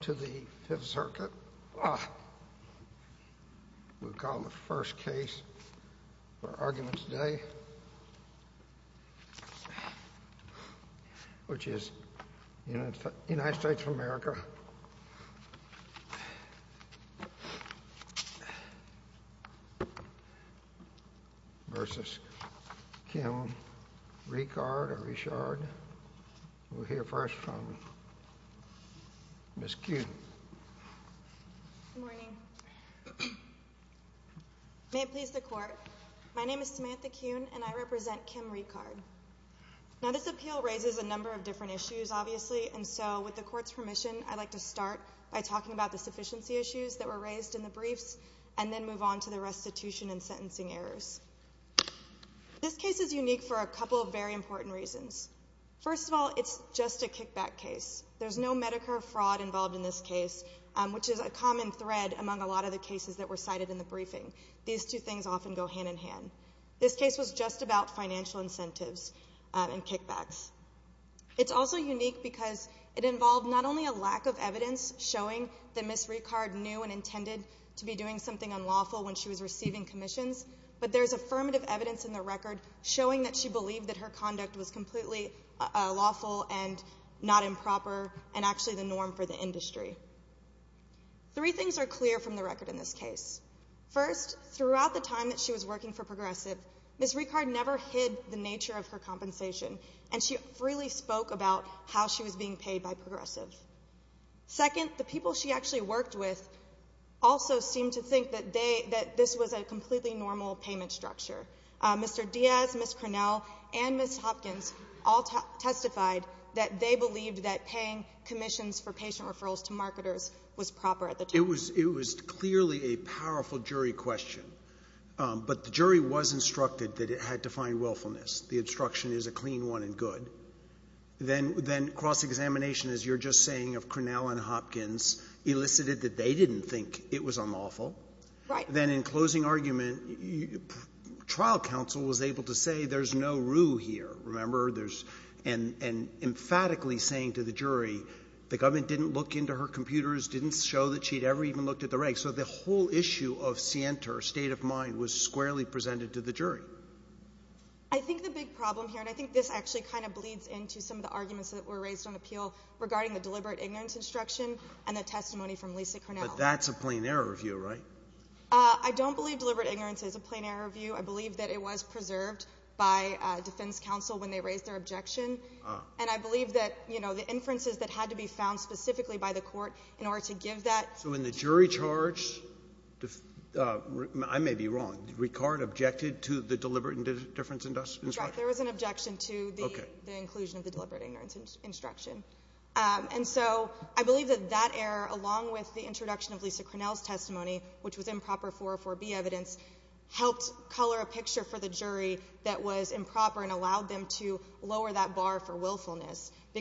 to the 5th Circuit. We'll call the first case for arguments today, which is United States of America v. Kim Ricard. We'll hear first from Ms. Kuhn. Good morning. May it please the Court. My name is Samantha Kuhn, and I represent Kim Ricard. Now, this appeal raises a number of different issues, obviously, and so, with the Court's permission, I'd like to start by talking about the sufficiency issues that were raised in the briefs, and then move on to the restitution and sentencing errors. This case is unique for a couple of very important reasons. First of all, it's just a kickback case. There's no Medicare fraud involved in this case, which is a common thread among a lot of the cases that were cited in the briefing. These two things often go hand-in-hand. This case was just about financial incentives and kickbacks. It's also unique because it involved not only a lack of evidence showing that Ms. Ricard knew and intended to be doing something unlawful when she was receiving commissions, but there's affirmative evidence in the record showing that she believed that her conduct was completely lawful and not improper and actually the norm for the industry. Three things are clear from the record in this case. First, throughout the time that she was working for Progressive, Ms. Ricard never hid the nature of her compensation, and she freely spoke about how she was being paid by Progressive. Second, the people she actually worked with also seemed to think that they, that this was a completely normal payment structure. Mr. Diaz, Ms. Cornell, and Ms. Hopkins all testified that they believed that paying commissions for patient referrals to marketers was proper at the time. It was clearly a powerful jury question, but the jury was instructed that it had to find willfulness. The instruction is a clean one and good. Then cross-examination, as you're just saying, of Cornell and Hopkins elicited that they didn't think it was unlawful. Right. Then in closing argument, trial counsel was able to say there's no rue here, remember? And emphatically saying to the jury, the government didn't look into her computers, didn't show that she'd ever even looked at the regs. So the whole issue of scienter, state of mind, was squarely presented to the jury. I think the big problem here, and I think this actually kind of bleeds into some of the arguments that were raised on appeal regarding the deliberate ignorance instruction and the testimony from Lisa Cornell. But that's a plain error view, right? I don't believe deliberate ignorance is a plain error view. I believe that it was preserved by defense counsel when they raised their objection. And I believe that the inferences that had to be found specifically by the court in order to give that. So in the jury charge, I may be wrong, Ricard objected to the deliberate difference instruction? There was an objection to the inclusion of the deliberate ignorance instruction. And so I believe that that error, along with the introduction of Lisa Cornell's testimony, which was improper 404B evidence, helped color a picture for the jury that was improper and allowed them to lower that bar for willfulness. So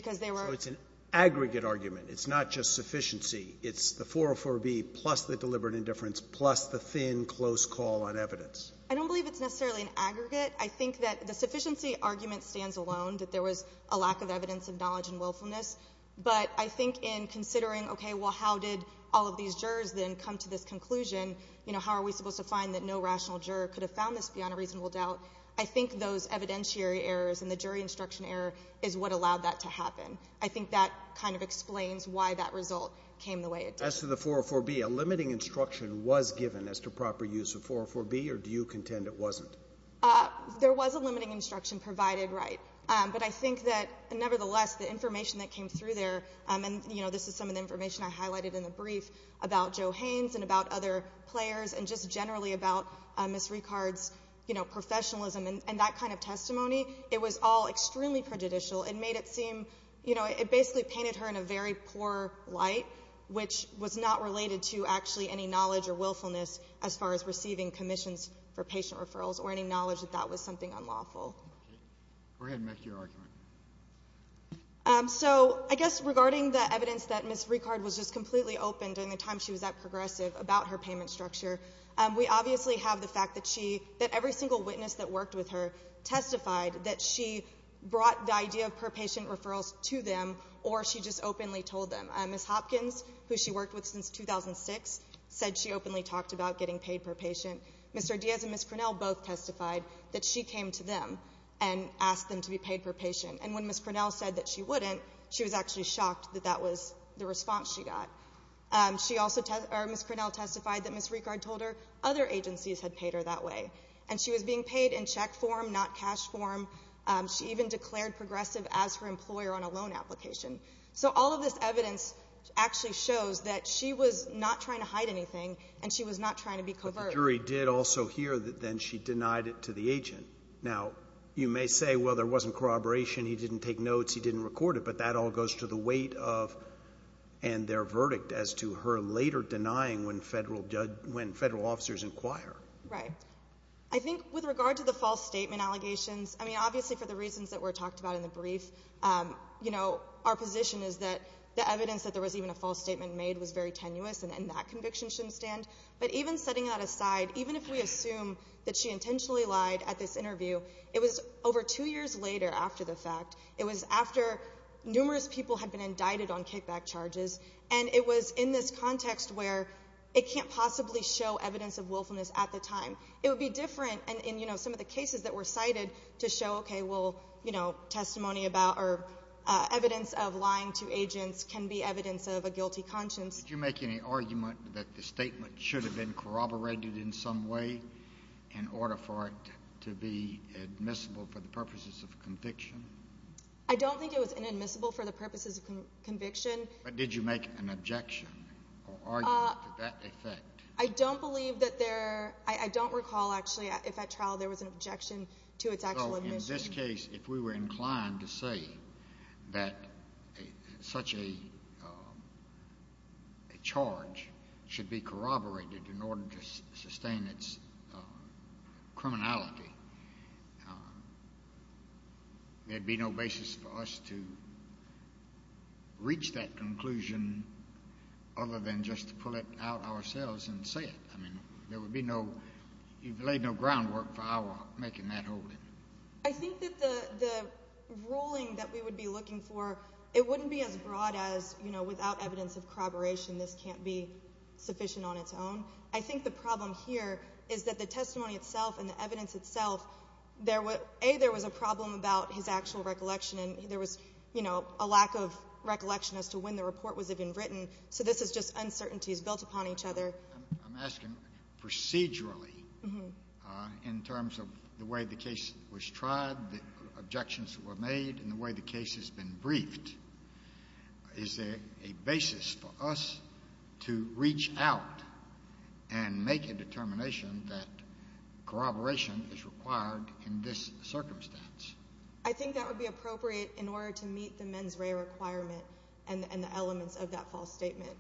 it's an aggregate argument. It's not just sufficiency. It's the 404B plus the deliberate indifference plus the thin, close call on evidence. I don't believe it's necessarily an aggregate. I think that the sufficiency argument stands alone, that there was a lack of evidence of knowledge and willfulness. But I think in considering, okay, well, how did all of these jurors then come to this conclusion? You know, how are we supposed to find that no rational juror could have found this beyond a reasonable doubt? I think those evidentiary errors and the jury instruction error is what allowed that to happen. I think that kind of explains why that result came the way it did. As to the 404B, a limiting instruction was given as to proper use of 404B, or do you contend it wasn't? There was a limiting instruction provided, right. But I think that, nevertheless, the information that came through there, and, you know, this is some of the information I highlighted in the brief about Joe Haynes and about other players and just generally about Ms. Ricard's, you know, professionalism and that kind of testimony, it was all extremely prejudicial. It made it seem, you know, it basically painted her in a very poor light, which was not related to actually any knowledge or willfulness as far as receiving commissions for patient referrals or any knowledge that that was something unlawful. Go ahead and make your argument. So I guess regarding the evidence that Ms. Ricard was just completely open during the time she was at Progressive about her payment structure, we obviously have the fact that she, that every single witness that worked with her testified that she brought the idea of per patient referrals to them or she just openly told them. Ms. Hopkins, who she worked with since 2006, said she openly talked about getting paid per patient. Mr. Diaz and Ms. Cornell both testified that she came to them and asked them to be paid per patient. And when Ms. Cornell said that she wouldn't, she was actually shocked that that was the response she got. She also, or Ms. Cornell testified that Ms. Ricard told her other agencies had paid her that way, and she was being paid in check form, not cash form. She even declared Progressive as her employer on a loan application. So all of this evidence actually shows that she was not trying to hide anything and she was not trying to be covert. But the jury did also hear that then she denied it to the agent. Now, you may say, well, there wasn't corroboration, he didn't take notes, he didn't record it, but that all goes to the weight of their verdict as to her later denying when federal officers inquire. Right. I think with regard to the false statement allegations, I mean, obviously for the reasons that were talked about in the brief, our position is that the evidence that there was even a false statement made was very tenuous and that conviction shouldn't stand. But even setting that aside, even if we assume that she intentionally lied at this interview, it was over two years later after the fact, it was after numerous people had been indicted on kickback charges, and it was in this context where it can't possibly show evidence of willfulness at the time. It would be different in some of the cases that were cited to show, okay, well, testimony about or evidence of lying to agents can be evidence of a guilty conscience. Did you make any argument that the statement should have been corroborated in some way in order for it to be admissible for the purposes of conviction? I don't think it was inadmissible for the purposes of conviction. But did you make an objection or argument to that effect? I don't believe that there – I don't recall, actually, if at trial there was an objection to its actual admission. In this case, if we were inclined to say that such a charge should be corroborated in order to sustain its criminality, there would be no basis for us to reach that conclusion other than just to pull it out ourselves and say it. I mean, there would be no – you've laid no groundwork for our making that holding. I think that the ruling that we would be looking for, it wouldn't be as broad as, you know, without evidence of corroboration this can't be sufficient on its own. I think the problem here is that the testimony itself and the evidence itself, a, there was a problem about his actual recollection and there was, you know, a lack of recollection as to when the report was even written. So this is just uncertainties built upon each other. I'm asking procedurally in terms of the way the case was tried, the objections that were made, and the way the case has been briefed, is there a basis for us to reach out and make a determination that corroboration is required in this circumstance? I think that would be appropriate in order to meet the mens rea requirement and the elements of that false statement.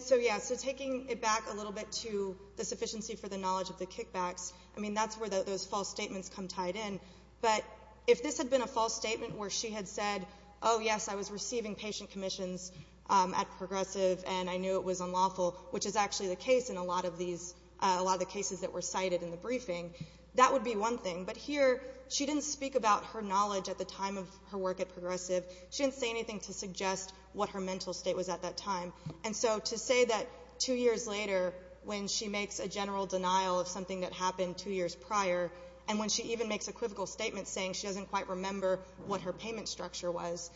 So, yes, taking it back a little bit to the sufficiency for the knowledge of the kickbacks, I mean, that's where those false statements come tied in. But if this had been a false statement where she had said, oh, yes, I was receiving patient commissions at Progressive and I knew it was unlawful, which is actually the case in a lot of the cases that were cited in the briefing, that would be one thing. But here she didn't speak about her knowledge at the time of her work at Progressive. She didn't say anything to suggest what her mental state was at that time. And so to say that two years later when she makes a general denial of something that happened two years prior and when she even makes equivocal statements saying she doesn't quite remember what her payment structure was,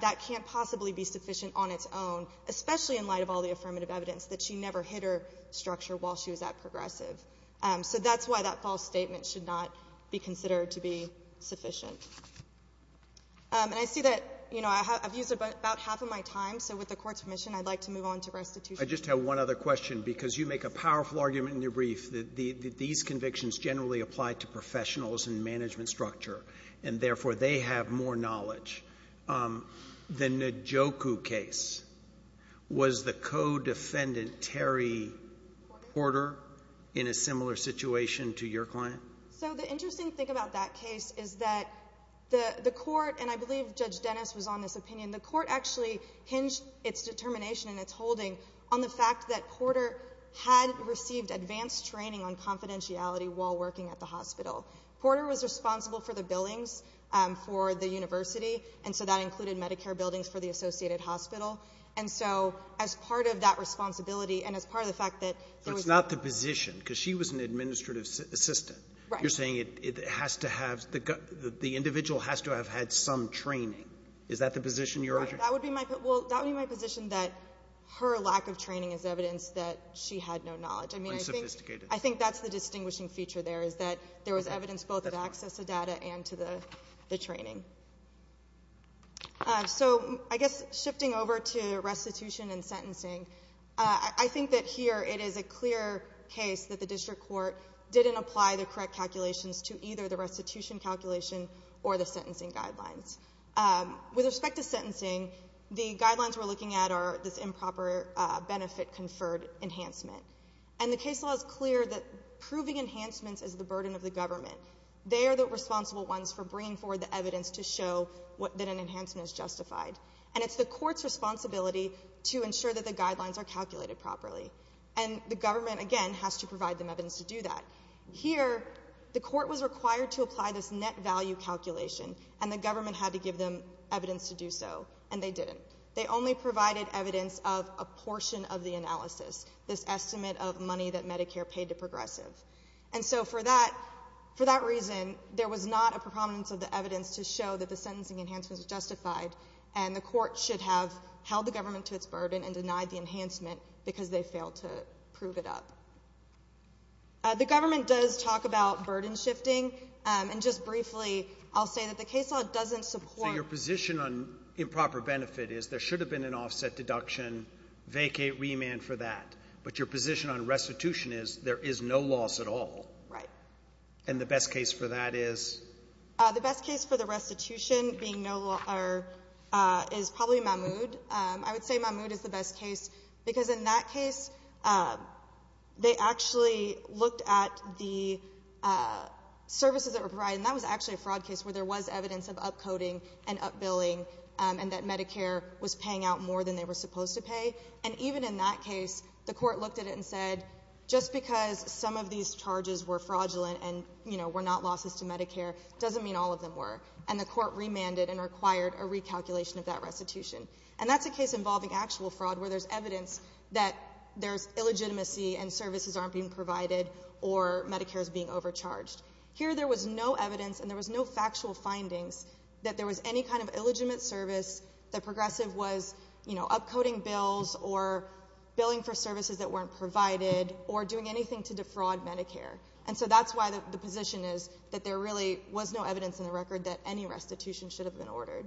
that can't possibly be sufficient on its own, especially in light of all the affirmative evidence that she never hit her structure while she was at Progressive. So that's why that false statement should not be considered to be sufficient. And I see that, you know, I've used about half of my time. So with the Court's permission, I'd like to move on to restitution. I just have one other question because you make a powerful argument in your brief that these convictions generally apply to professionals and management structure, and therefore they have more knowledge. The Najoku case, was the co-defendant Terry Porter in a similar situation to your client? So the interesting thing about that case is that the Court, and I believe Judge Dennis was on this opinion, the Court actually hinged its determination and its holding on the fact that Porter had received advanced training on confidentiality while working at the hospital. Porter was responsible for the billings for the university, and so that included Medicare buildings for the associated hospital. And so as part of that responsibility and as part of the fact that there was not the position because she was an administrative assistant. Right. You're saying it has to have the individual has to have had some training. Is that the position you're arguing? Right. That would be my position that her lack of training is evidence that she had no knowledge. I mean, I think that's the distinguishing feature there is that there was evidence both of access to data and to the training. So I guess shifting over to restitution and sentencing, I think that here it is a clear case that the district court didn't apply the correct calculations to either the restitution calculation or the sentencing guidelines. With respect to sentencing, the guidelines we're looking at are this improper benefit conferred enhancement. And the case law is clear that proving enhancements is the burden of the government. They are the responsible ones for bringing forward the evidence to show that an enhancement is justified. And it's the court's responsibility to ensure that the guidelines are calculated properly. And the government, again, has to provide them evidence to do that. Here the court was required to apply this net value calculation, and the government had to give them evidence to do so, and they didn't. They only provided evidence of a portion of the analysis, this estimate of money that Medicare paid to progressive. And so for that reason, there was not a prominence of the evidence to show that the sentencing enhancements were justified, and the court should have held the government to its burden and denied the enhancement because they failed to prove it up. The government does talk about burden shifting, and just briefly I'll say that the case law doesn't support So your position on improper benefit is there should have been an offset deduction, vacate remand for that. But your position on restitution is there is no loss at all. Right. And the best case for that is? The best case for the restitution being no loss is probably Mahmoud. I would say Mahmoud is the best case because in that case, they actually looked at the services that were provided, and that was actually a fraud case where there was evidence of up-coding and up-billing and that Medicare was paying out more than they were supposed to pay. And even in that case, the court looked at it and said, just because some of these charges were fraudulent and, you know, were not losses to Medicare, doesn't mean all of them were. And the court remanded and required a recalculation of that restitution. And that's a case involving actual fraud where there's evidence that there's illegitimacy and services aren't being provided or Medicare is being overcharged. Here there was no evidence and there was no factual findings that there was any kind of illegitimate service, that Progressive was, you know, up-coding bills or billing for services that weren't provided or doing anything to defraud Medicare. And so that's why the position is that there really was no evidence in the record that any restitution should have been ordered.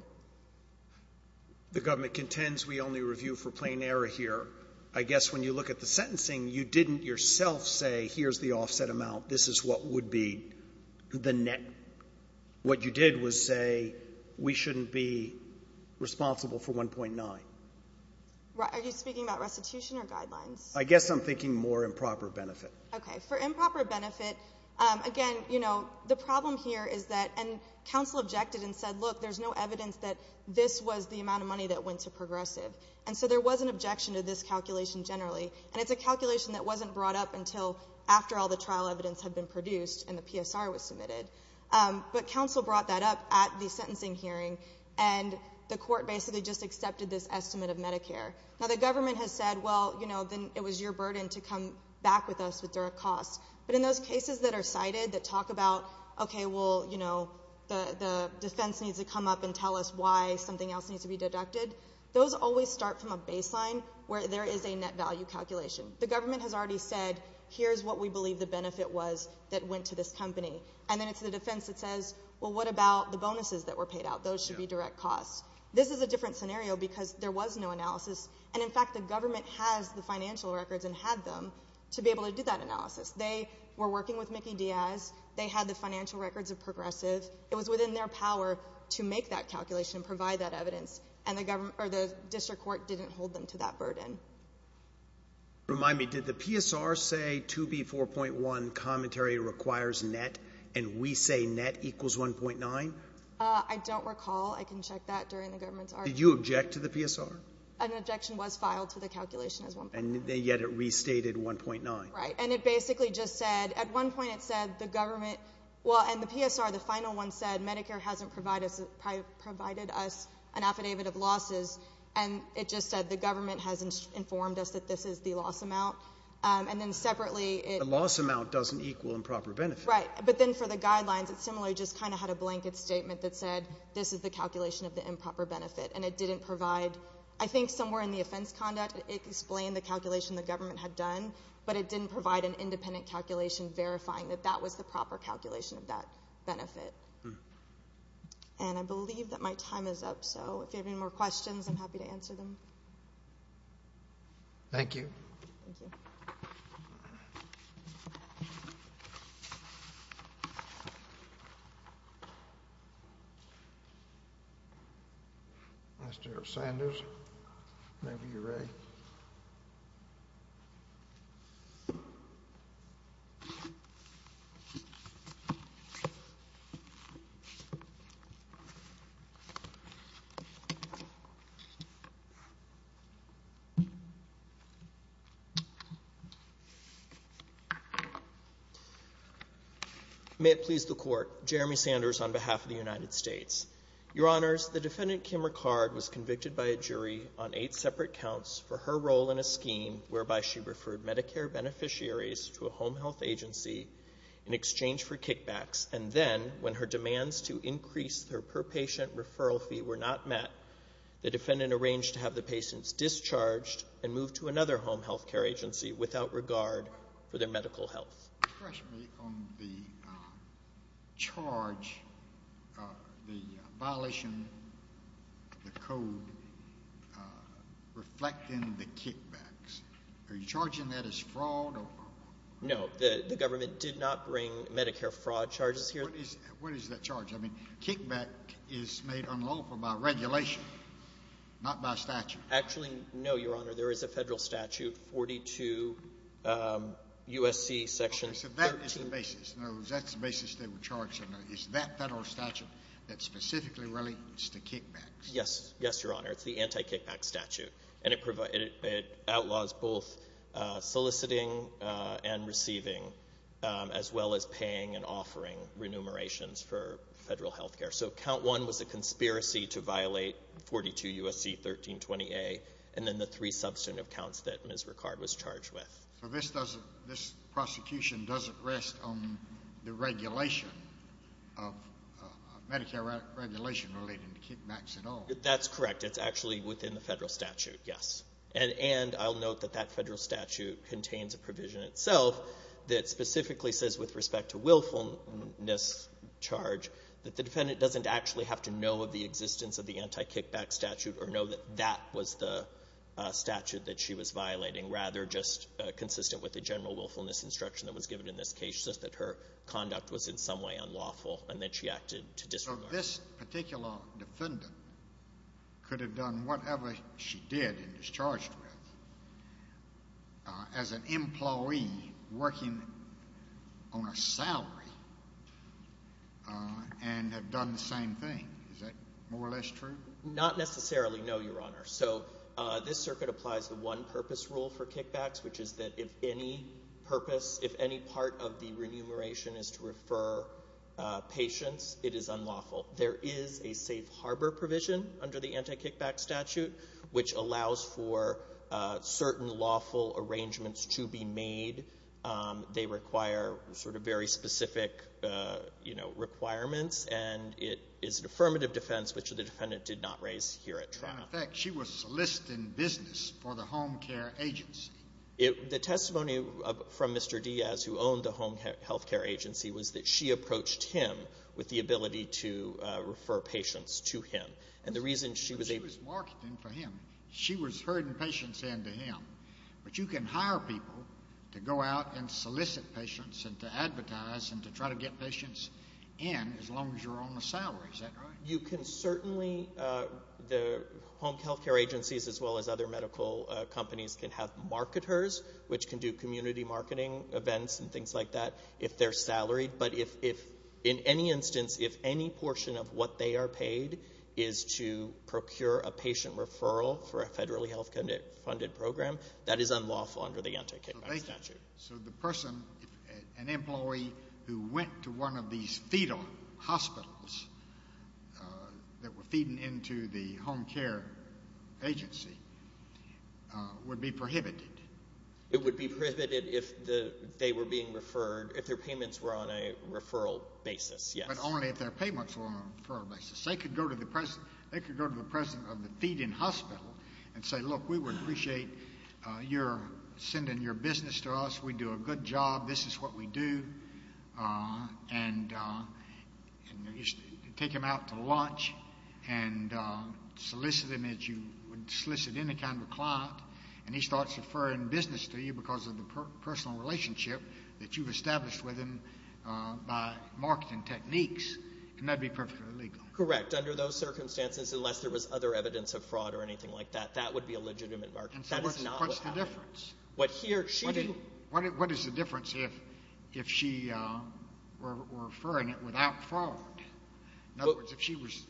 The government contends we only review for plain error here. I guess when you look at the sentencing, you didn't yourself say here's the offset amount, this is what would be the net. What you did was say we shouldn't be responsible for 1.9. Are you speaking about restitution or guidelines? I guess I'm thinking more improper benefit. Okay. For improper benefit, again, you know, the problem here is that, and counsel objected and said, look, there's no evidence that this was the amount of money that went to Progressive. And so there was an objection to this calculation generally. And it's a calculation that wasn't brought up until after all the trial evidence had been produced and the PSR was submitted. But counsel brought that up at the sentencing hearing, and the court basically just accepted this estimate of Medicare. Now, the government has said, well, you know, then it was your burden to come back with us with direct costs. But in those cases that are cited that talk about, okay, well, you know, the defense needs to come up and tell us why something else needs to be deducted, those always start from a baseline where there is a net value calculation. The government has already said, here's what we believe the benefit was that went to this company. And then it's the defense that says, well, what about the bonuses that were paid out? Those should be direct costs. This is a different scenario because there was no analysis. And, in fact, the government has the financial records and had them to be able to do that analysis. They were working with Mickey Diaz. They had the financial records of Progressive. It was within their power to make that calculation and provide that evidence. And the district court didn't hold them to that burden. Remind me, did the PSR say 2B4.1 commentary requires net, and we say net equals 1.9? I don't recall. I can check that during the government's argument. Did you object to the PSR? An objection was filed to the calculation as 1.9. And yet it restated 1.9. Right. And it basically just said, at one point it said the government, well, in the PSR, the final one said Medicare hasn't provided us an affidavit of losses, and it just said the government has informed us that this is the loss amount. And then separately it— The loss amount doesn't equal improper benefit. Right. But then for the guidelines, it similarly just kind of had a blanket statement that said this is the calculation of the improper benefit. And it didn't provide, I think somewhere in the offense conduct, it explained the calculation the government had done, but it didn't provide an independent calculation verifying that that was the proper calculation of that benefit. And I believe that my time is up, so if you have any more questions, I'm happy to answer them. Thank you. Thank you. Mr. Sanders, whenever you're ready. May it please the Court. Jeremy Sanders on behalf of the United States. Your Honors, the Defendant Kim Ricard was convicted by a jury on eight separate counts for her role in a scheme whereby she referred Medicare beneficiaries to a home health agency in exchange for kickbacks, and then when her demands to increase her per patient referral fee were not met, the Defendant arranged to have the patients discharged and moved to another home health care agency without regard for their medical health. Trust me on the charge, the violation, the code reflecting the kickbacks. Are you charging that as fraud? No. No, the government did not bring Medicare fraud charges here. What is that charge? I mean, kickback is made unlawful by regulation, not by statute. Actually, no, Your Honor. There is a federal statute, 42 U.S.C. section 32. Okay, so that is the basis. In other words, that's the basis they were charging. It's that federal statute that specifically relates to kickbacks. Yes, Your Honor. It's the anti-kickback statute, and it outlaws both soliciting and receiving as well as paying and offering remunerations for federal health care. So count one was a conspiracy to violate 42 U.S.C. 1320A and then the three substantive counts that Ms. Ricard was charged with. So this prosecution doesn't rest on the regulation of Medicare regulation relating to kickbacks at all? That's correct. It's actually within the federal statute, yes. And I'll note that that federal statute contains a provision itself that specifically says with respect to willfulness charge that the defendant doesn't actually have to know of the existence of the anti-kickback statute or know that that was the statute that she was violating, rather just consistent with the general willfulness instruction that was given in this case, just that her conduct was in some way unlawful and that she acted to disregard it. So this particular defendant could have done whatever she did and is charged with as an employee working on a salary and have done the same thing. Is that more or less true? Not necessarily, no, Your Honor. So this circuit applies the one-purpose rule for kickbacks, which is that if any purpose, if any part of the remuneration is to refer patients, it is unlawful. There is a safe harbor provision under the anti-kickback statute which allows for certain lawful arrangements to be made. They require sort of very specific, you know, requirements, and it is an affirmative defense, which the defendant did not raise here at trial. In effect, she was soliciting business for the home care agency. The testimony from Mr. Diaz, who owned the home health care agency, was that she approached him with the ability to refer patients to him. She was marketing for him. She was herding patients in to him. But you can hire people to go out and solicit patients and to advertise and to try to get patients in as long as you're on the salary. Is that right? You can certainly, the home health care agencies as well as other medical companies can have marketers, which can do community marketing events and things like that, if they're salaried. But in any instance, if any portion of what they are paid is to procure a patient referral for a federally health-funded program, that is unlawful under the anti-kickback statute. So the person, an employee, who went to one of these fetal hospitals that were feeding into the home care agency would be prohibited. It would be prohibited if they were being referred, if their payments were on a referral basis, yes. But only if their payments were on a referral basis. They could go to the president of the feeding hospital and say, look, we would appreciate your sending your business to us. We do a good job. This is what we do. And take him out to lunch and solicit him as you would solicit any kind of a client, and he starts referring business to you because of the personal relationship that you've established with him by marketing techniques, then that would be perfectly legal. Correct. Under those circumstances, unless there was other evidence of fraud or anything like that, that would be a legitimate marketer. What's the difference? What is the difference if she were referring it without fraud? In other words, if she was...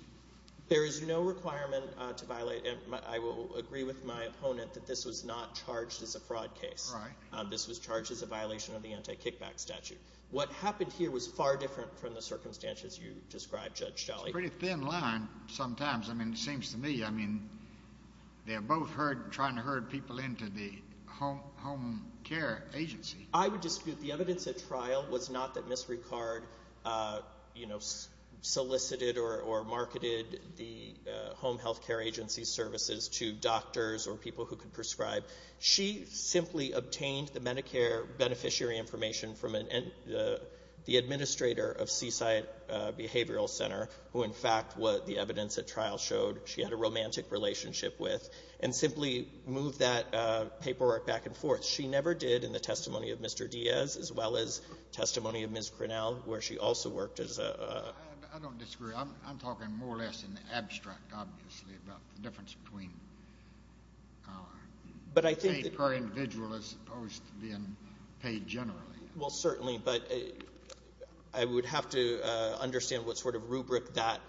There is no requirement to violate, and I will agree with my opponent, that this was not charged as a fraud case. Right. This was charged as a violation of the anti-kickback statute. What happened here was far different from the circumstances you described, Judge Jolly. It's a pretty thin line sometimes. I mean, it seems to me, I mean, they're both trying to herd people into the home care agency. I would dispute the evidence at trial was not that Ms. Ricard, you know, solicited or marketed the home health care agency services to doctors or people who could prescribe. She simply obtained the Medicare beneficiary information from the administrator of Seaside Behavioral Center, who, in fact, what the evidence at trial showed, she had a romantic relationship with, and simply moved that paperwork back and forth. She never did in the testimony of Mr. Diaz, as well as testimony of Ms. Cronall, where she also worked as a... I don't disagree. I'm talking more or less in the abstract, obviously, about the difference between paid per individual as opposed to being paid generally. Well, certainly, but I would have to understand what sort of rubric that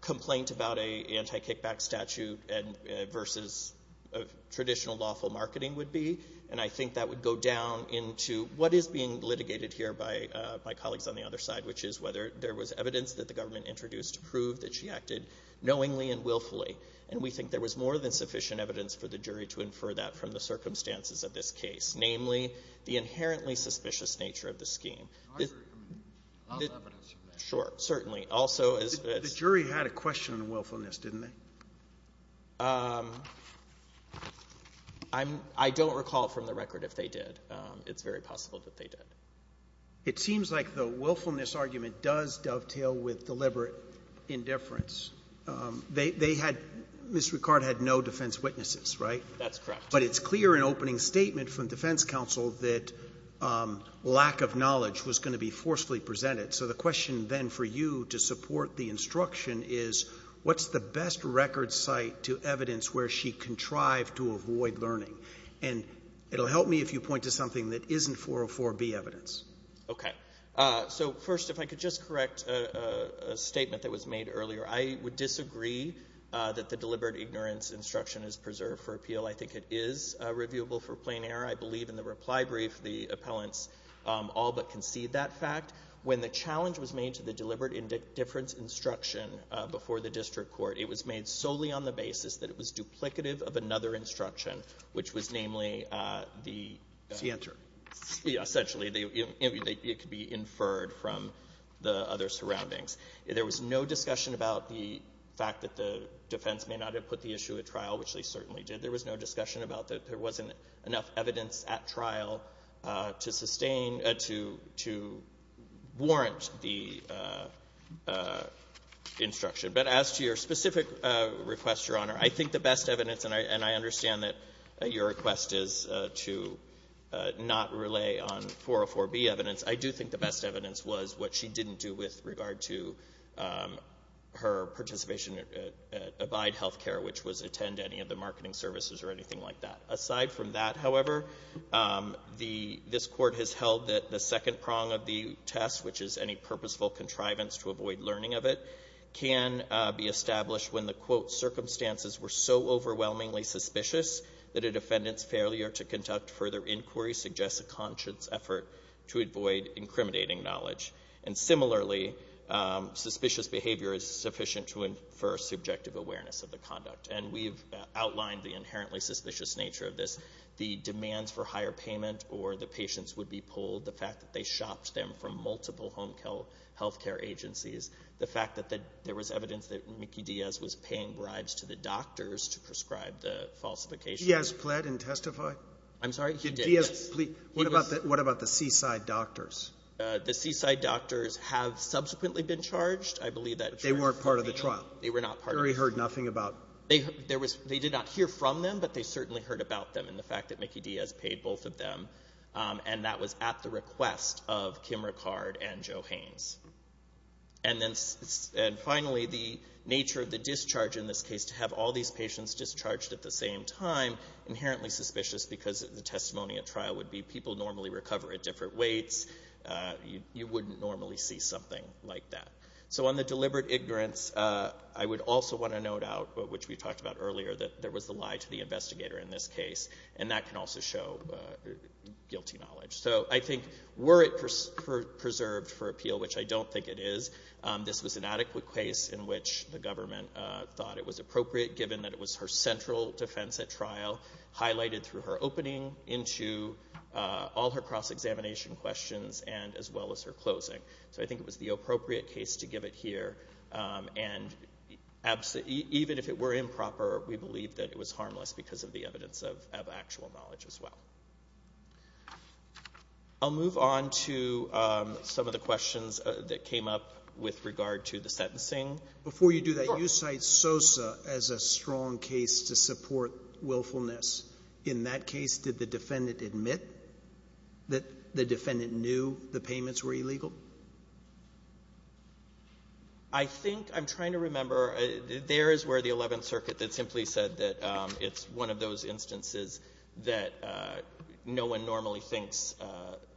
complaint about an anti-kickback statute versus traditional lawful marketing would be, and I think that would go down into what is being litigated here by colleagues on the other side, which is whether there was evidence that the government introduced to prove that she acted knowingly and willfully, and we think there was more than sufficient evidence for the jury to infer that from the circumstances of this case, namely the inherently suspicious nature of the scheme. I agree. There's a lot of evidence. Sure, certainly. Also, as it's... The jury had a question on willfulness, didn't they? I'm — I don't recall from the record if they did. It's very possible that they did. It seems like the willfulness argument does dovetail with deliberate indifference. They had — Ms. Ricard had no defense witnesses, right? That's correct. But it's clear in opening statement from defense counsel that lack of knowledge was going to be forcefully presented. So the question then for you to support the instruction is, what's the best record site to evidence where she contrived to avoid learning? And it will help me if you point to something that isn't 404B evidence. Okay. So, first, if I could just correct a statement that was made earlier. I would disagree that the deliberate ignorance instruction is preserved for appeal. I think it is reviewable for plain error. I believe in the reply brief the appellants all but concede that fact. When the challenge was made to the deliberate indifference instruction before the district court, it was made solely on the basis that it was duplicative of another instruction, which was namely the... The answer. Essentially. It could be inferred from the other surroundings. There was no discussion about the fact that the defense may not have put the issue at trial, which they certainly did. There was no discussion about that. There wasn't enough evidence at trial to sustain or to warrant the instruction. But as to your specific request, Your Honor, I think the best evidence, and I understand that your request is to not relay on 404B evidence, I do think the best evidence was what she didn't do with regard to her participation at Abide Healthcare, which was attend any of the marketing services or anything like that. Aside from that, however, the — this Court has held that the second prong of the test, which is any purposeful contrivance to avoid learning of it, can be established when the, quote, circumstances were so overwhelmingly suspicious that a defendant's failure to conduct further inquiry suggests a conscious effort to avoid incriminating knowledge. And similarly, suspicious behavior is sufficient to infer subjective awareness of the conduct. And we've outlined the inherently suspicious nature of this. The demands for higher payment or the patients would be pulled. The fact that they shopped them from multiple home healthcare agencies. The fact that there was evidence that Mickey Diaz was paying bribes to the doctors to prescribe the falsification. He has pled and testified? I'm sorry? He did, yes. What about the Seaside Doctors? The Seaside Doctors have subsequently been charged. I believe that — They weren't part of the trial. They were not part of the trial. They certainly heard nothing about — They did not hear from them, but they certainly heard about them and the fact that Mickey Diaz paid both of them. And that was at the request of Kim Ricard and Joe Haines. And finally, the nature of the discharge in this case, to have all these patients discharged at the same time, inherently suspicious because the testimony at trial would be people normally recover at different weights. You wouldn't normally see something like that. So on the deliberate ignorance, I would also want to note out, which we talked about earlier, that there was a lie to the investigator in this case, and that can also show guilty knowledge. So I think were it preserved for appeal, which I don't think it is, this was an adequate case in which the government thought it was appropriate given that it was her central defense at trial, highlighted through her opening into all her cross-examination questions and as well as her closing. So I think it was the appropriate case to give it here. And even if it were improper, we believe that it was harmless because of the evidence of actual knowledge as well. I'll move on to some of the questions that came up with regard to the sentencing. Before you do that, you cite Sosa as a strong case to support willfulness. In that case, did the defendant admit that the defendant knew the payments were illegal? I think I'm trying to remember. There is where the Eleventh Circuit that simply said that it's one of those instances that no one normally thinks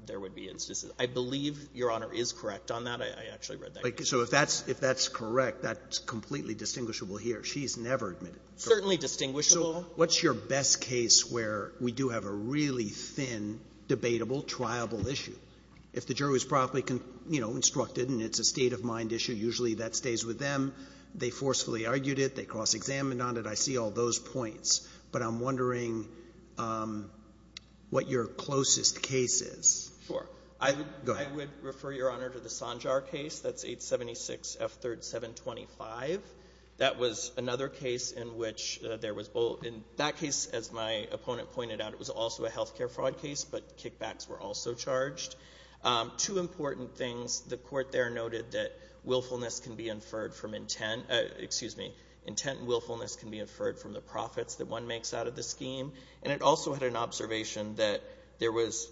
there would be instances. I believe Your Honor is correct on that. I actually read that. So if that's correct, that's completely distinguishable here. She's never admitted. Certainly distinguishable. So what's your best case where we do have a really thin, debatable, triable issue? If the jury was properly, you know, instructed and it's a state-of-mind issue, usually that stays with them. They forcefully argued it. They cross-examined on it. I see all those points. But I'm wondering what your closest case is. Sure. Go ahead. I would refer, Your Honor, to the Sanjar case. That's 876F3725. That was another case in which there was both. In that case, as my opponent pointed out, it was also a health care fraud case, but kickbacks were also charged. Two important things. The Court there noted that willfulness can be inferred from intent. Excuse me. Intent and willfulness can be inferred from the profits that one makes out of the scheme. And it also had an observation that there was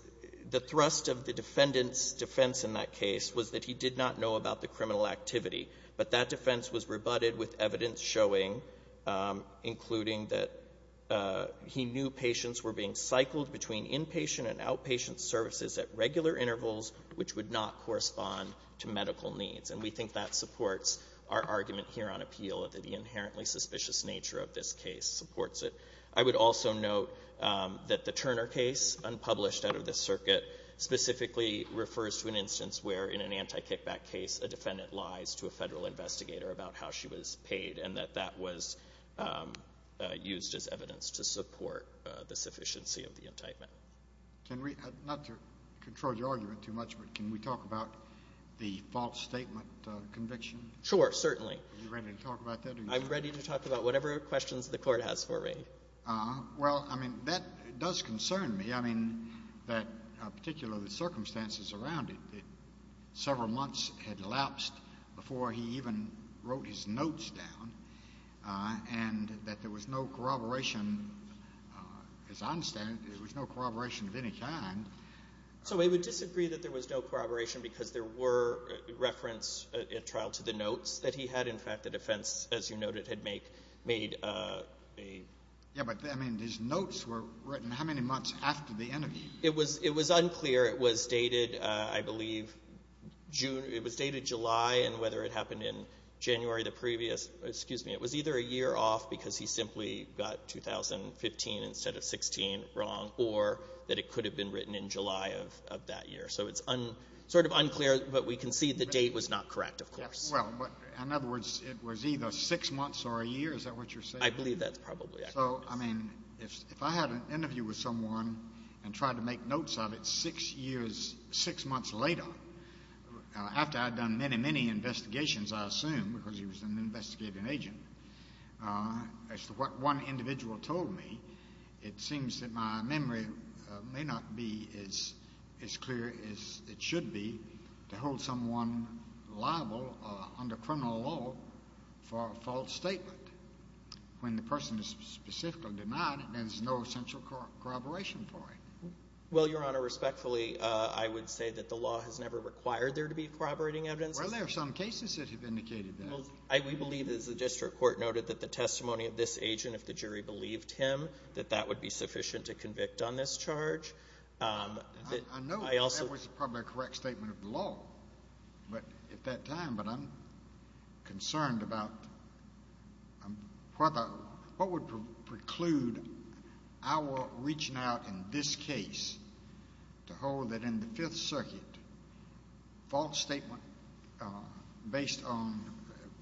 the thrust of the defendant's defense in that case was that he did not know about the criminal activity, but that defense was rebutted with evidence showing, including that he knew patients were being cycled between inpatient and outpatient services at regular intervals, which would not correspond to medical needs. And we think that supports our argument here on appeal, that the inherently suspicious nature of this case supports it. I would also note that the Turner case, unpublished out of this circuit, specifically refers to an instance where, in an anti-kickback case, a defendant lies to a Federal investigator about how she was paid, and that that was used as evidence to support the sufficiency of the entitlement. Not to control your argument too much, but can we talk about the false statement conviction? Sure, certainly. Are you ready to talk about that? I'm ready to talk about whatever questions the Court has for me. Well, I mean, that does concern me. I mean, that particularly the circumstances around it, that several months had elapsed before he even wrote his notes down, and that there was no corroboration. As I understand it, there was no corroboration of any kind. So we would disagree that there was no corroboration because there were reference at trial to the notes that he had. In fact, the defense, as you noted, had made a... Yeah, but, I mean, his notes were written how many months after the interview? It was unclear. It was dated, I believe, June. It was dated July, and whether it happened in January the previous, excuse me, it was either a year off because he simply got 2015 instead of 16 wrong, or that it could have been written in July of that year. So it's sort of unclear, but we can see the date was not correct, of course. Well, in other words, it was either six months or a year. Is that what you're saying? I believe that's probably accurate. So, I mean, if I had an interview with someone and tried to make notes of it six months later, after I'd done many, many investigations, I assume, because he was an investigative agent, as to what one individual told me, it seems that my memory may not be as clear as it should be to hold someone liable under criminal law for a false statement when the person is specifically denied it, and there's no essential corroboration for it. Well, Your Honor, respectfully, I would say that the law has never required there to be corroborating evidence. Well, there are some cases that have indicated that. We believe, as the district court noted, that the testimony of this agent, if the jury believed him, that that would be sufficient to convict on this charge. I know that was probably a correct statement of the law at that time, but I'm concerned about what would preclude our reaching out in this case to hold that in the Fifth Circuit false statement based on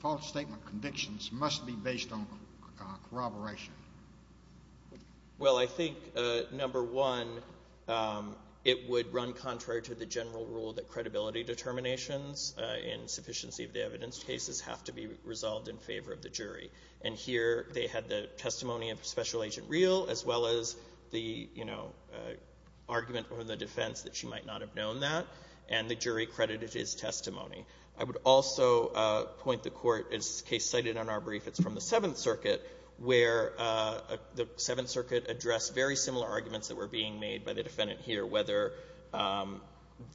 false statement convictions must be based on corroboration. Well, I think, number one, it would run contrary to the general rule that credibility determinations in sufficiency of the evidence cases have to be resolved in favor of the jury. And here they had the testimony of Special Agent Reel as well as the, you know, argument from the defense that she might not have known that, and the jury credited his testimony. I would also point the Court, as the case cited in our brief, it's from the Seventh Circuit, where the Seventh Circuit addressed very similar arguments that were being made by the defendant here, whether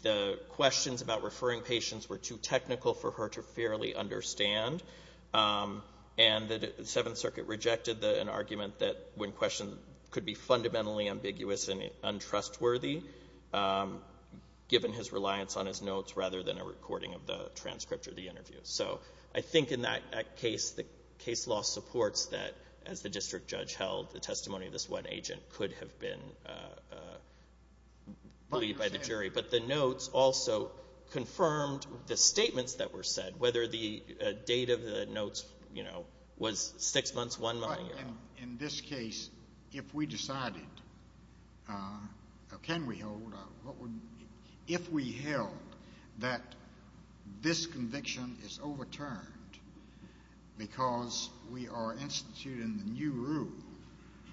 the questions about referring patients were too technical for her to fairly understand. And the Seventh Circuit rejected an argument that when questioned could be fundamentally ambiguous and untrustworthy, given his reliance on his notes rather than a recording of the transcript or the interview. So I think in that case, the case law supports that, as the district judge held, the testimony of this one agent could have been believed by the jury. But the notes also confirmed the statements that were said, whether the date of the notes, you know, was six months, one month. In this case, if we decided, can we hold, if we held that this conviction is overturned because we are instituting the new rule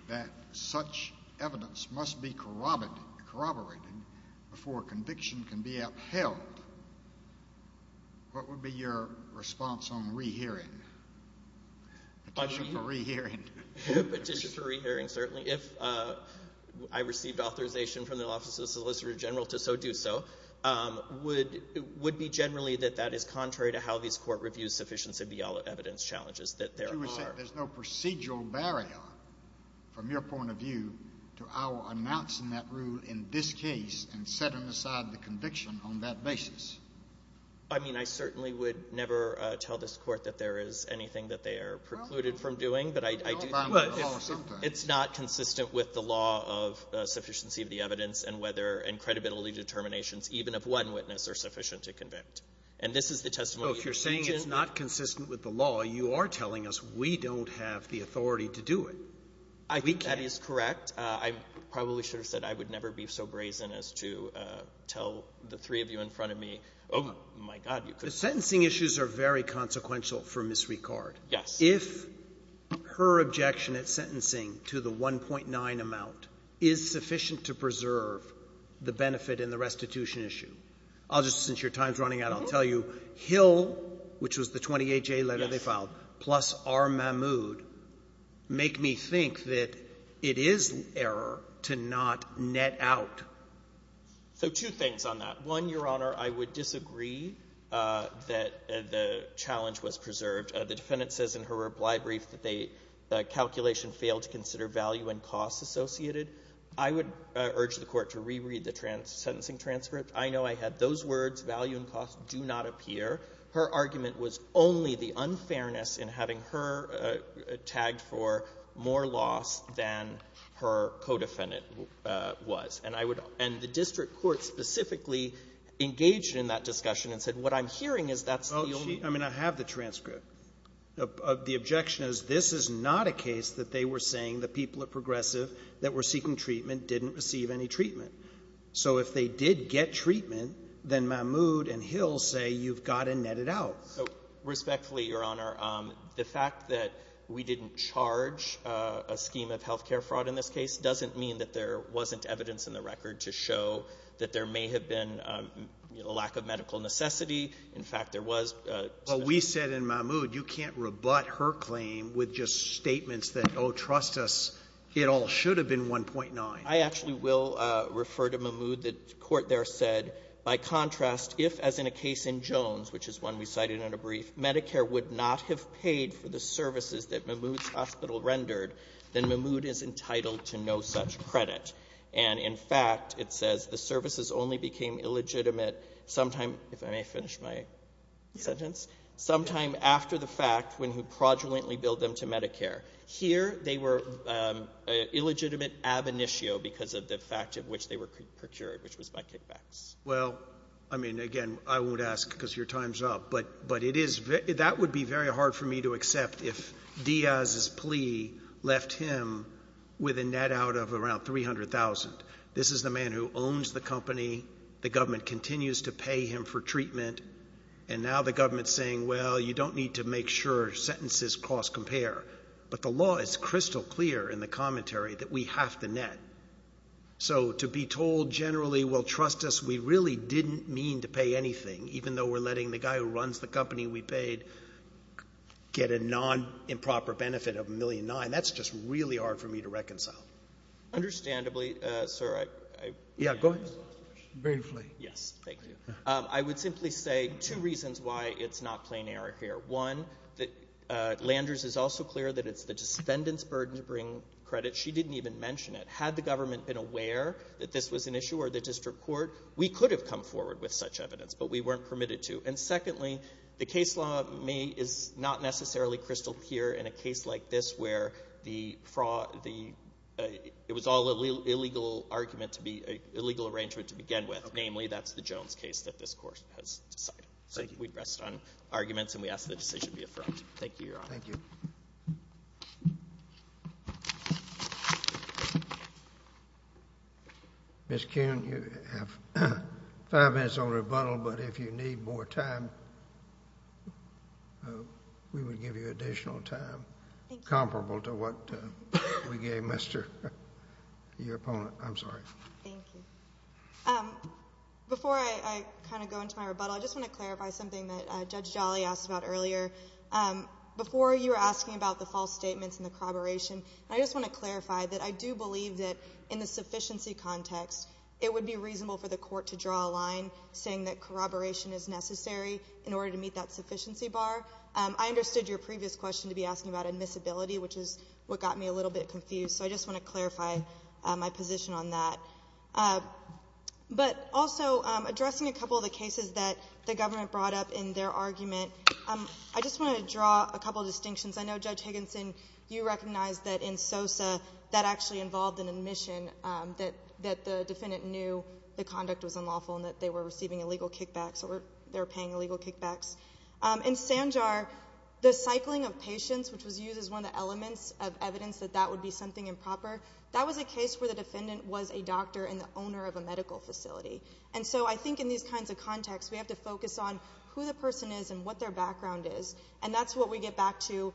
that such evidence must be corroborated before conviction can be upheld, what would be your response on rehearing? Petition for rehearing. Petition for rehearing, certainly. If I received authorization from the Office of the Solicitor General to so do so, it would be generally that that is contrary to how these court reviews sufficiency of the evidence challenges that there are. But you would say there's no procedural barrier, from your point of view, to our announcing that rule in this case and setting aside the conviction on that basis? I mean, I certainly would never tell this Court that there is anything that they are precluded from doing. But I do think it's not consistent with the law of sufficiency of the evidence and whether credibility determinations, even of one witness, are sufficient to convict. And this is the testimony of the defendant. Oh, if you're saying it's not consistent with the law, you are telling us we don't have the authority to do it. We can't. I think that is correct. I probably should have said I would never be so brazen as to tell the three of you in front of me, oh, my God, you could. The sentencing issues are very consequential for Ms. Ricard. Yes. If her objection at sentencing to the 1.9 amount is sufficient to preserve the benefit in the restitution issue. I'll just, since your time is running out, I'll tell you, Hill, which was the 28-J letter they filed, plus R. Mahmoud, make me think that it is error to not net out. So two things on that. One, Your Honor, I would disagree that the challenge was preserved. The defendant says in her reply brief that they, the calculation failed to consider value and costs associated. I would urge the Court to reread the sentencing transcript. I know I had those words, value and costs do not appear. Her argument was only the unfairness in having her tagged for more loss than her co-defendant was. And I would, and the district court specifically engaged in that discussion and said what I'm hearing is that's the only one. I mean, I have the transcript. The objection is this is not a case that they were saying, the people at Progressive that were seeking treatment didn't receive any treatment. So if they did get treatment, then Mahmoud and Hill say you've got to net it out. Respectfully, Your Honor, the fact that we didn't charge a scheme of health care fraud in this case doesn't mean that there wasn't evidence in the record to show that there may have been a lack of medical necessity. In fact, there was. Well, we said in Mahmoud you can't rebut her claim with just statements that, oh, trust us, it all should have been 1.9. I actually will refer to Mahmoud. The Court there said, by contrast, if, as in a case in Jones, which is one we cited in a brief, Medicare would not have paid for the services that Mahmoud's hospital rendered, then Mahmoud is entitled to no such credit. And, in fact, it says the services only became illegitimate sometime, if I may finish my sentence, sometime after the fact when he fraudulently billed them to Medicare. Here they were illegitimate ab initio because of the fact of which they were procured, which was by kickbacks. Well, I mean, again, I won't ask because your time is up. But that would be very hard for me to accept if Diaz's plea left him with a net out of around $300,000. This is the man who owns the company. The government continues to pay him for treatment. And now the government is saying, well, you don't need to make sure sentences cost compare. But the law is crystal clear in the commentary that we have to net. So, to be told generally, well, trust us, we really didn't mean to pay anything, even though we're letting the guy who runs the company we paid get a nonimproper benefit of $1.9 million. That's just really hard for me to reconcile. Understandably, sir, I... Yeah, go ahead. Briefly. Yes. Thank you. I would simply say two reasons why it's not plain error here. One, Landers is also clear that it's the defendant's burden to bring credit. She didn't even mention it. Had the government been aware that this was an issue or the district court, we could have come forward with such evidence, but we weren't permitted to. And secondly, the case law is not necessarily crystal clear in a case like this where the fraud, the...it was all an illegal argument to be...illegal arrangement to begin with. Namely, that's the Jones case that this Court has decided. So we'd rest on arguments and we ask that the decision be affirmed. Thank you, Your Honor. Thank you. Ms. Kuhn, you have five minutes on rebuttal, but if you need more time, we would give you additional time comparable to what we gave your opponent. I'm sorry. Thank you. Before I kind of go into my rebuttal, I just want to clarify something that Judge Jolly asked about earlier. Before you were asking about the false statements and the corroboration, I just want to clarify that I do believe that in the sufficiency context, it would be reasonable for the court to draw a line saying that corroboration is necessary in order to meet that sufficiency bar. I understood your previous question to be asking about admissibility, which is what got me a little bit confused, so I just want to clarify my position on that. But also, addressing a couple of the cases that the government brought up in their argument, I just want to draw a couple of distinctions. I know, Judge Higginson, you recognize that in Sosa, that actually involved an admission that the defendant knew the conduct was unlawful and that they were receiving illegal kickbacks or they were paying illegal kickbacks. In Sanjar, the cycling of patients, which was used as one of the elements of evidence that that would be something improper, that was a case where the defendant was a doctor and the owner of a medical facility. And so I think in these kinds of contexts, we have to focus on who the person is and what their background is. And that's what we get back to, you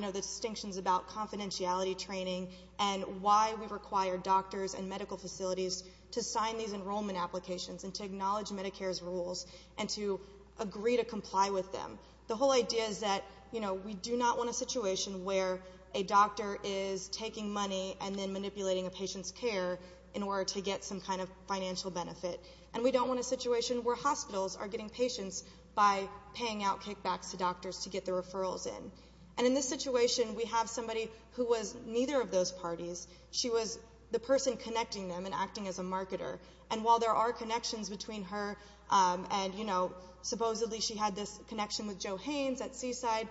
know, the distinctions about confidentiality training and why we require doctors and medical facilities to sign these enrollment applications and to acknowledge Medicare's rules and to agree to comply with them. The whole idea is that, you know, we do not want a situation where a doctor is taking money and then manipulating a patient's care in order to get some kind of financial benefit. And we don't want a situation where hospitals are getting patients by paying out kickbacks to doctors to get the referrals in. And in this situation, we have somebody who was neither of those parties. She was the person connecting them and acting as a marketer. And while there are connections between her and, you know, supposedly she had this connection with Joe Haines at Seaside,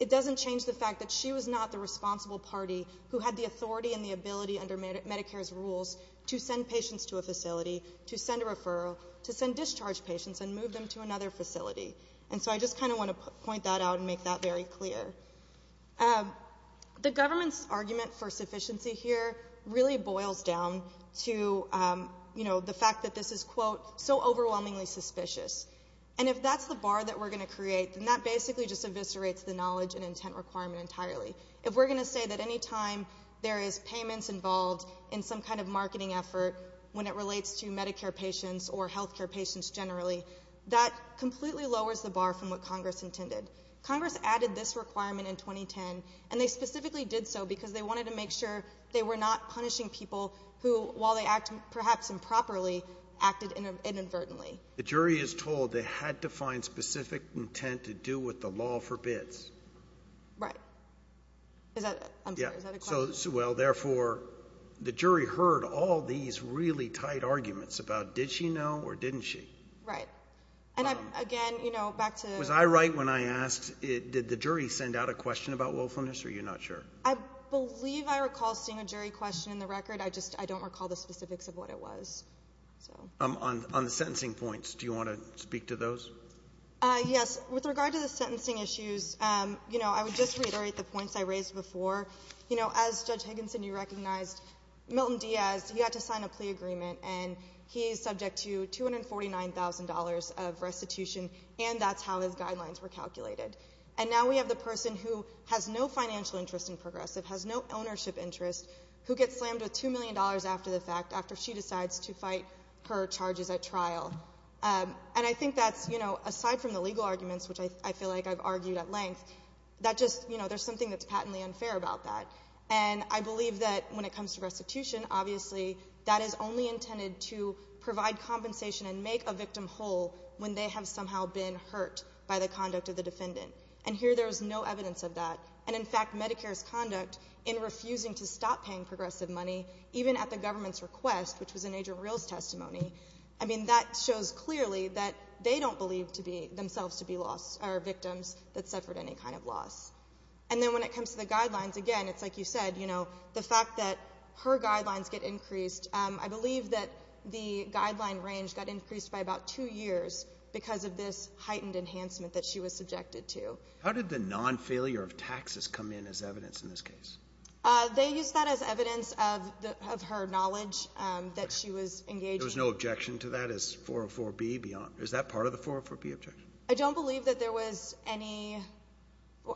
it doesn't change the fact that she was not the responsible party who had the authority and the ability under Medicare's rules to send patients to a facility, to send a referral, to send discharged patients and move them to another facility. And so I just kind of want to point that out and make that very clear. The government's argument for sufficiency here really boils down to, you know, the fact that this is, quote, so overwhelmingly suspicious. And if that's the bar that we're going to create, then that basically just eviscerates the knowledge and intent requirement entirely. If we're going to say that any time there is payments involved in some kind of marketing effort when it relates to Medicare patients or health care patients generally, that completely lowers the bar from what Congress intended. Congress added this requirement in 2010, and they specifically did so because they wanted to make sure they were not punishing people who, while they act perhaps improperly, acted inadvertently. The jury is told they had to find specific intent to do what the law forbids. Right. I'm sorry, is that a question? Well, therefore, the jury heard all these really tight arguments about did she know or didn't she? Right. And, again, you know, back to the... Was I right when I asked did the jury send out a question about willfulness, or are you not sure? I believe I recall seeing a jury question in the record. I just don't recall the specifics of what it was. On the sentencing points, do you want to speak to those? Yes. With regard to the sentencing issues, you know, I would just reiterate the points I raised before. You know, as Judge Higginson, you recognized Milton Diaz, he had to sign a plea agreement, and he is subject to $249,000 of restitution, and that's how his guidelines were calculated. And now we have the person who has no financial interest in Progressive, has no ownership interest, who gets slammed with $2 million after the fact, after she decides to fight her charges at trial. And I think that's, you know, aside from the legal arguments, which I feel like I've argued at length, that just, you know, there's something that's patently unfair about that. And I believe that when it comes to restitution, obviously, that is only intended to provide compensation and make a victim whole when they have somehow been hurt by the conduct of the defendant. And here there is no evidence of that. And, in fact, Medicare's conduct in refusing to stop paying Progressive money, even at the government's request, which was in Agent Real's testimony, I mean, that shows clearly that they don't believe themselves to be victims that suffered any kind of loss. And then when it comes to the guidelines, again, it's like you said, you know, the fact that her guidelines get increased, I believe that the guideline range got increased by about two years because of this heightened enhancement that she was subjected to. How did the non-failure of taxes come in as evidence in this case? They used that as evidence of her knowledge that she was engaging. There was no objection to that as 404B beyond? Is that part of the 404B objection? I don't believe that there was any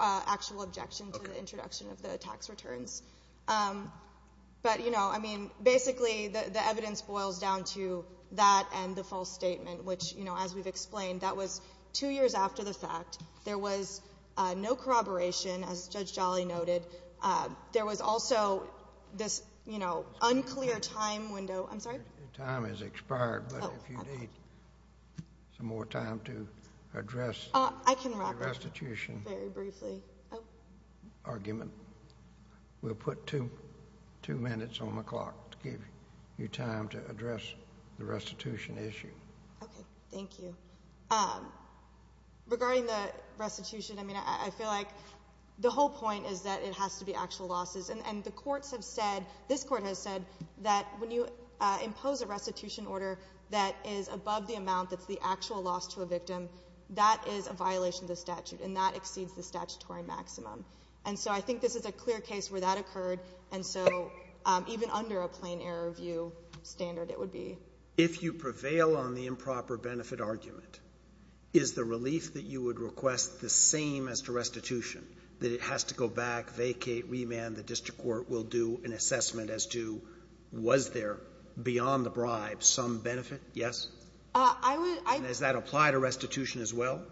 actual objection to the introduction of the tax returns. But, you know, I mean, basically the evidence boils down to that and the false statement, which, you know, as we've explained, that was two years after the fact. There was no corroboration, as Judge Jolly noted. There was also this, you know, unclear time window. I'm sorry? Your time has expired, but if you need some more time to address the restitution argument, we'll put two minutes on the clock to give you time to address the restitution issue. Okay. Thank you. Regarding the restitution, I mean, I feel like the whole point is that it has to be actual losses. And the courts have said, this Court has said, that when you impose a restitution order that is above the amount that's the actual loss to a victim, that is a violation of the statute, and that exceeds the statutory maximum. And so I think this is a clear case where that occurred, and so even under a plain error view standard it would be. If you prevail on the improper benefit argument, is the relief that you would request the same as to restitution, that it has to go back, vacate, remand, the district court will do an assessment as to was there, beyond the bribe, some benefit? Yes? I would. And does that apply to restitution as well?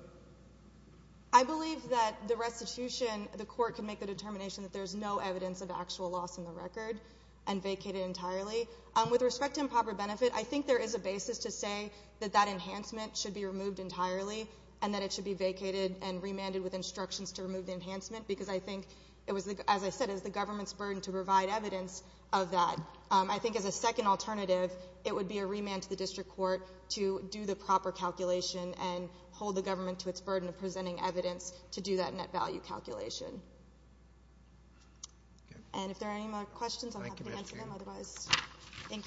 I believe that the restitution, the court can make the determination that there's no evidence of actual loss in the record and vacate it entirely. With respect to improper benefit, I think there is a basis to say that that enhancement should be removed entirely, and that it should be vacated and remanded with instructions to remove the enhancement, because I think it was, as I said, it was the government's burden to provide evidence of that. I think as a second alternative, it would be a remand to the district court to do the proper calculation and hold the government to its burden of presenting evidence to do that net value calculation. And if there are any more questions, I'm happy to answer them. Otherwise, thank you.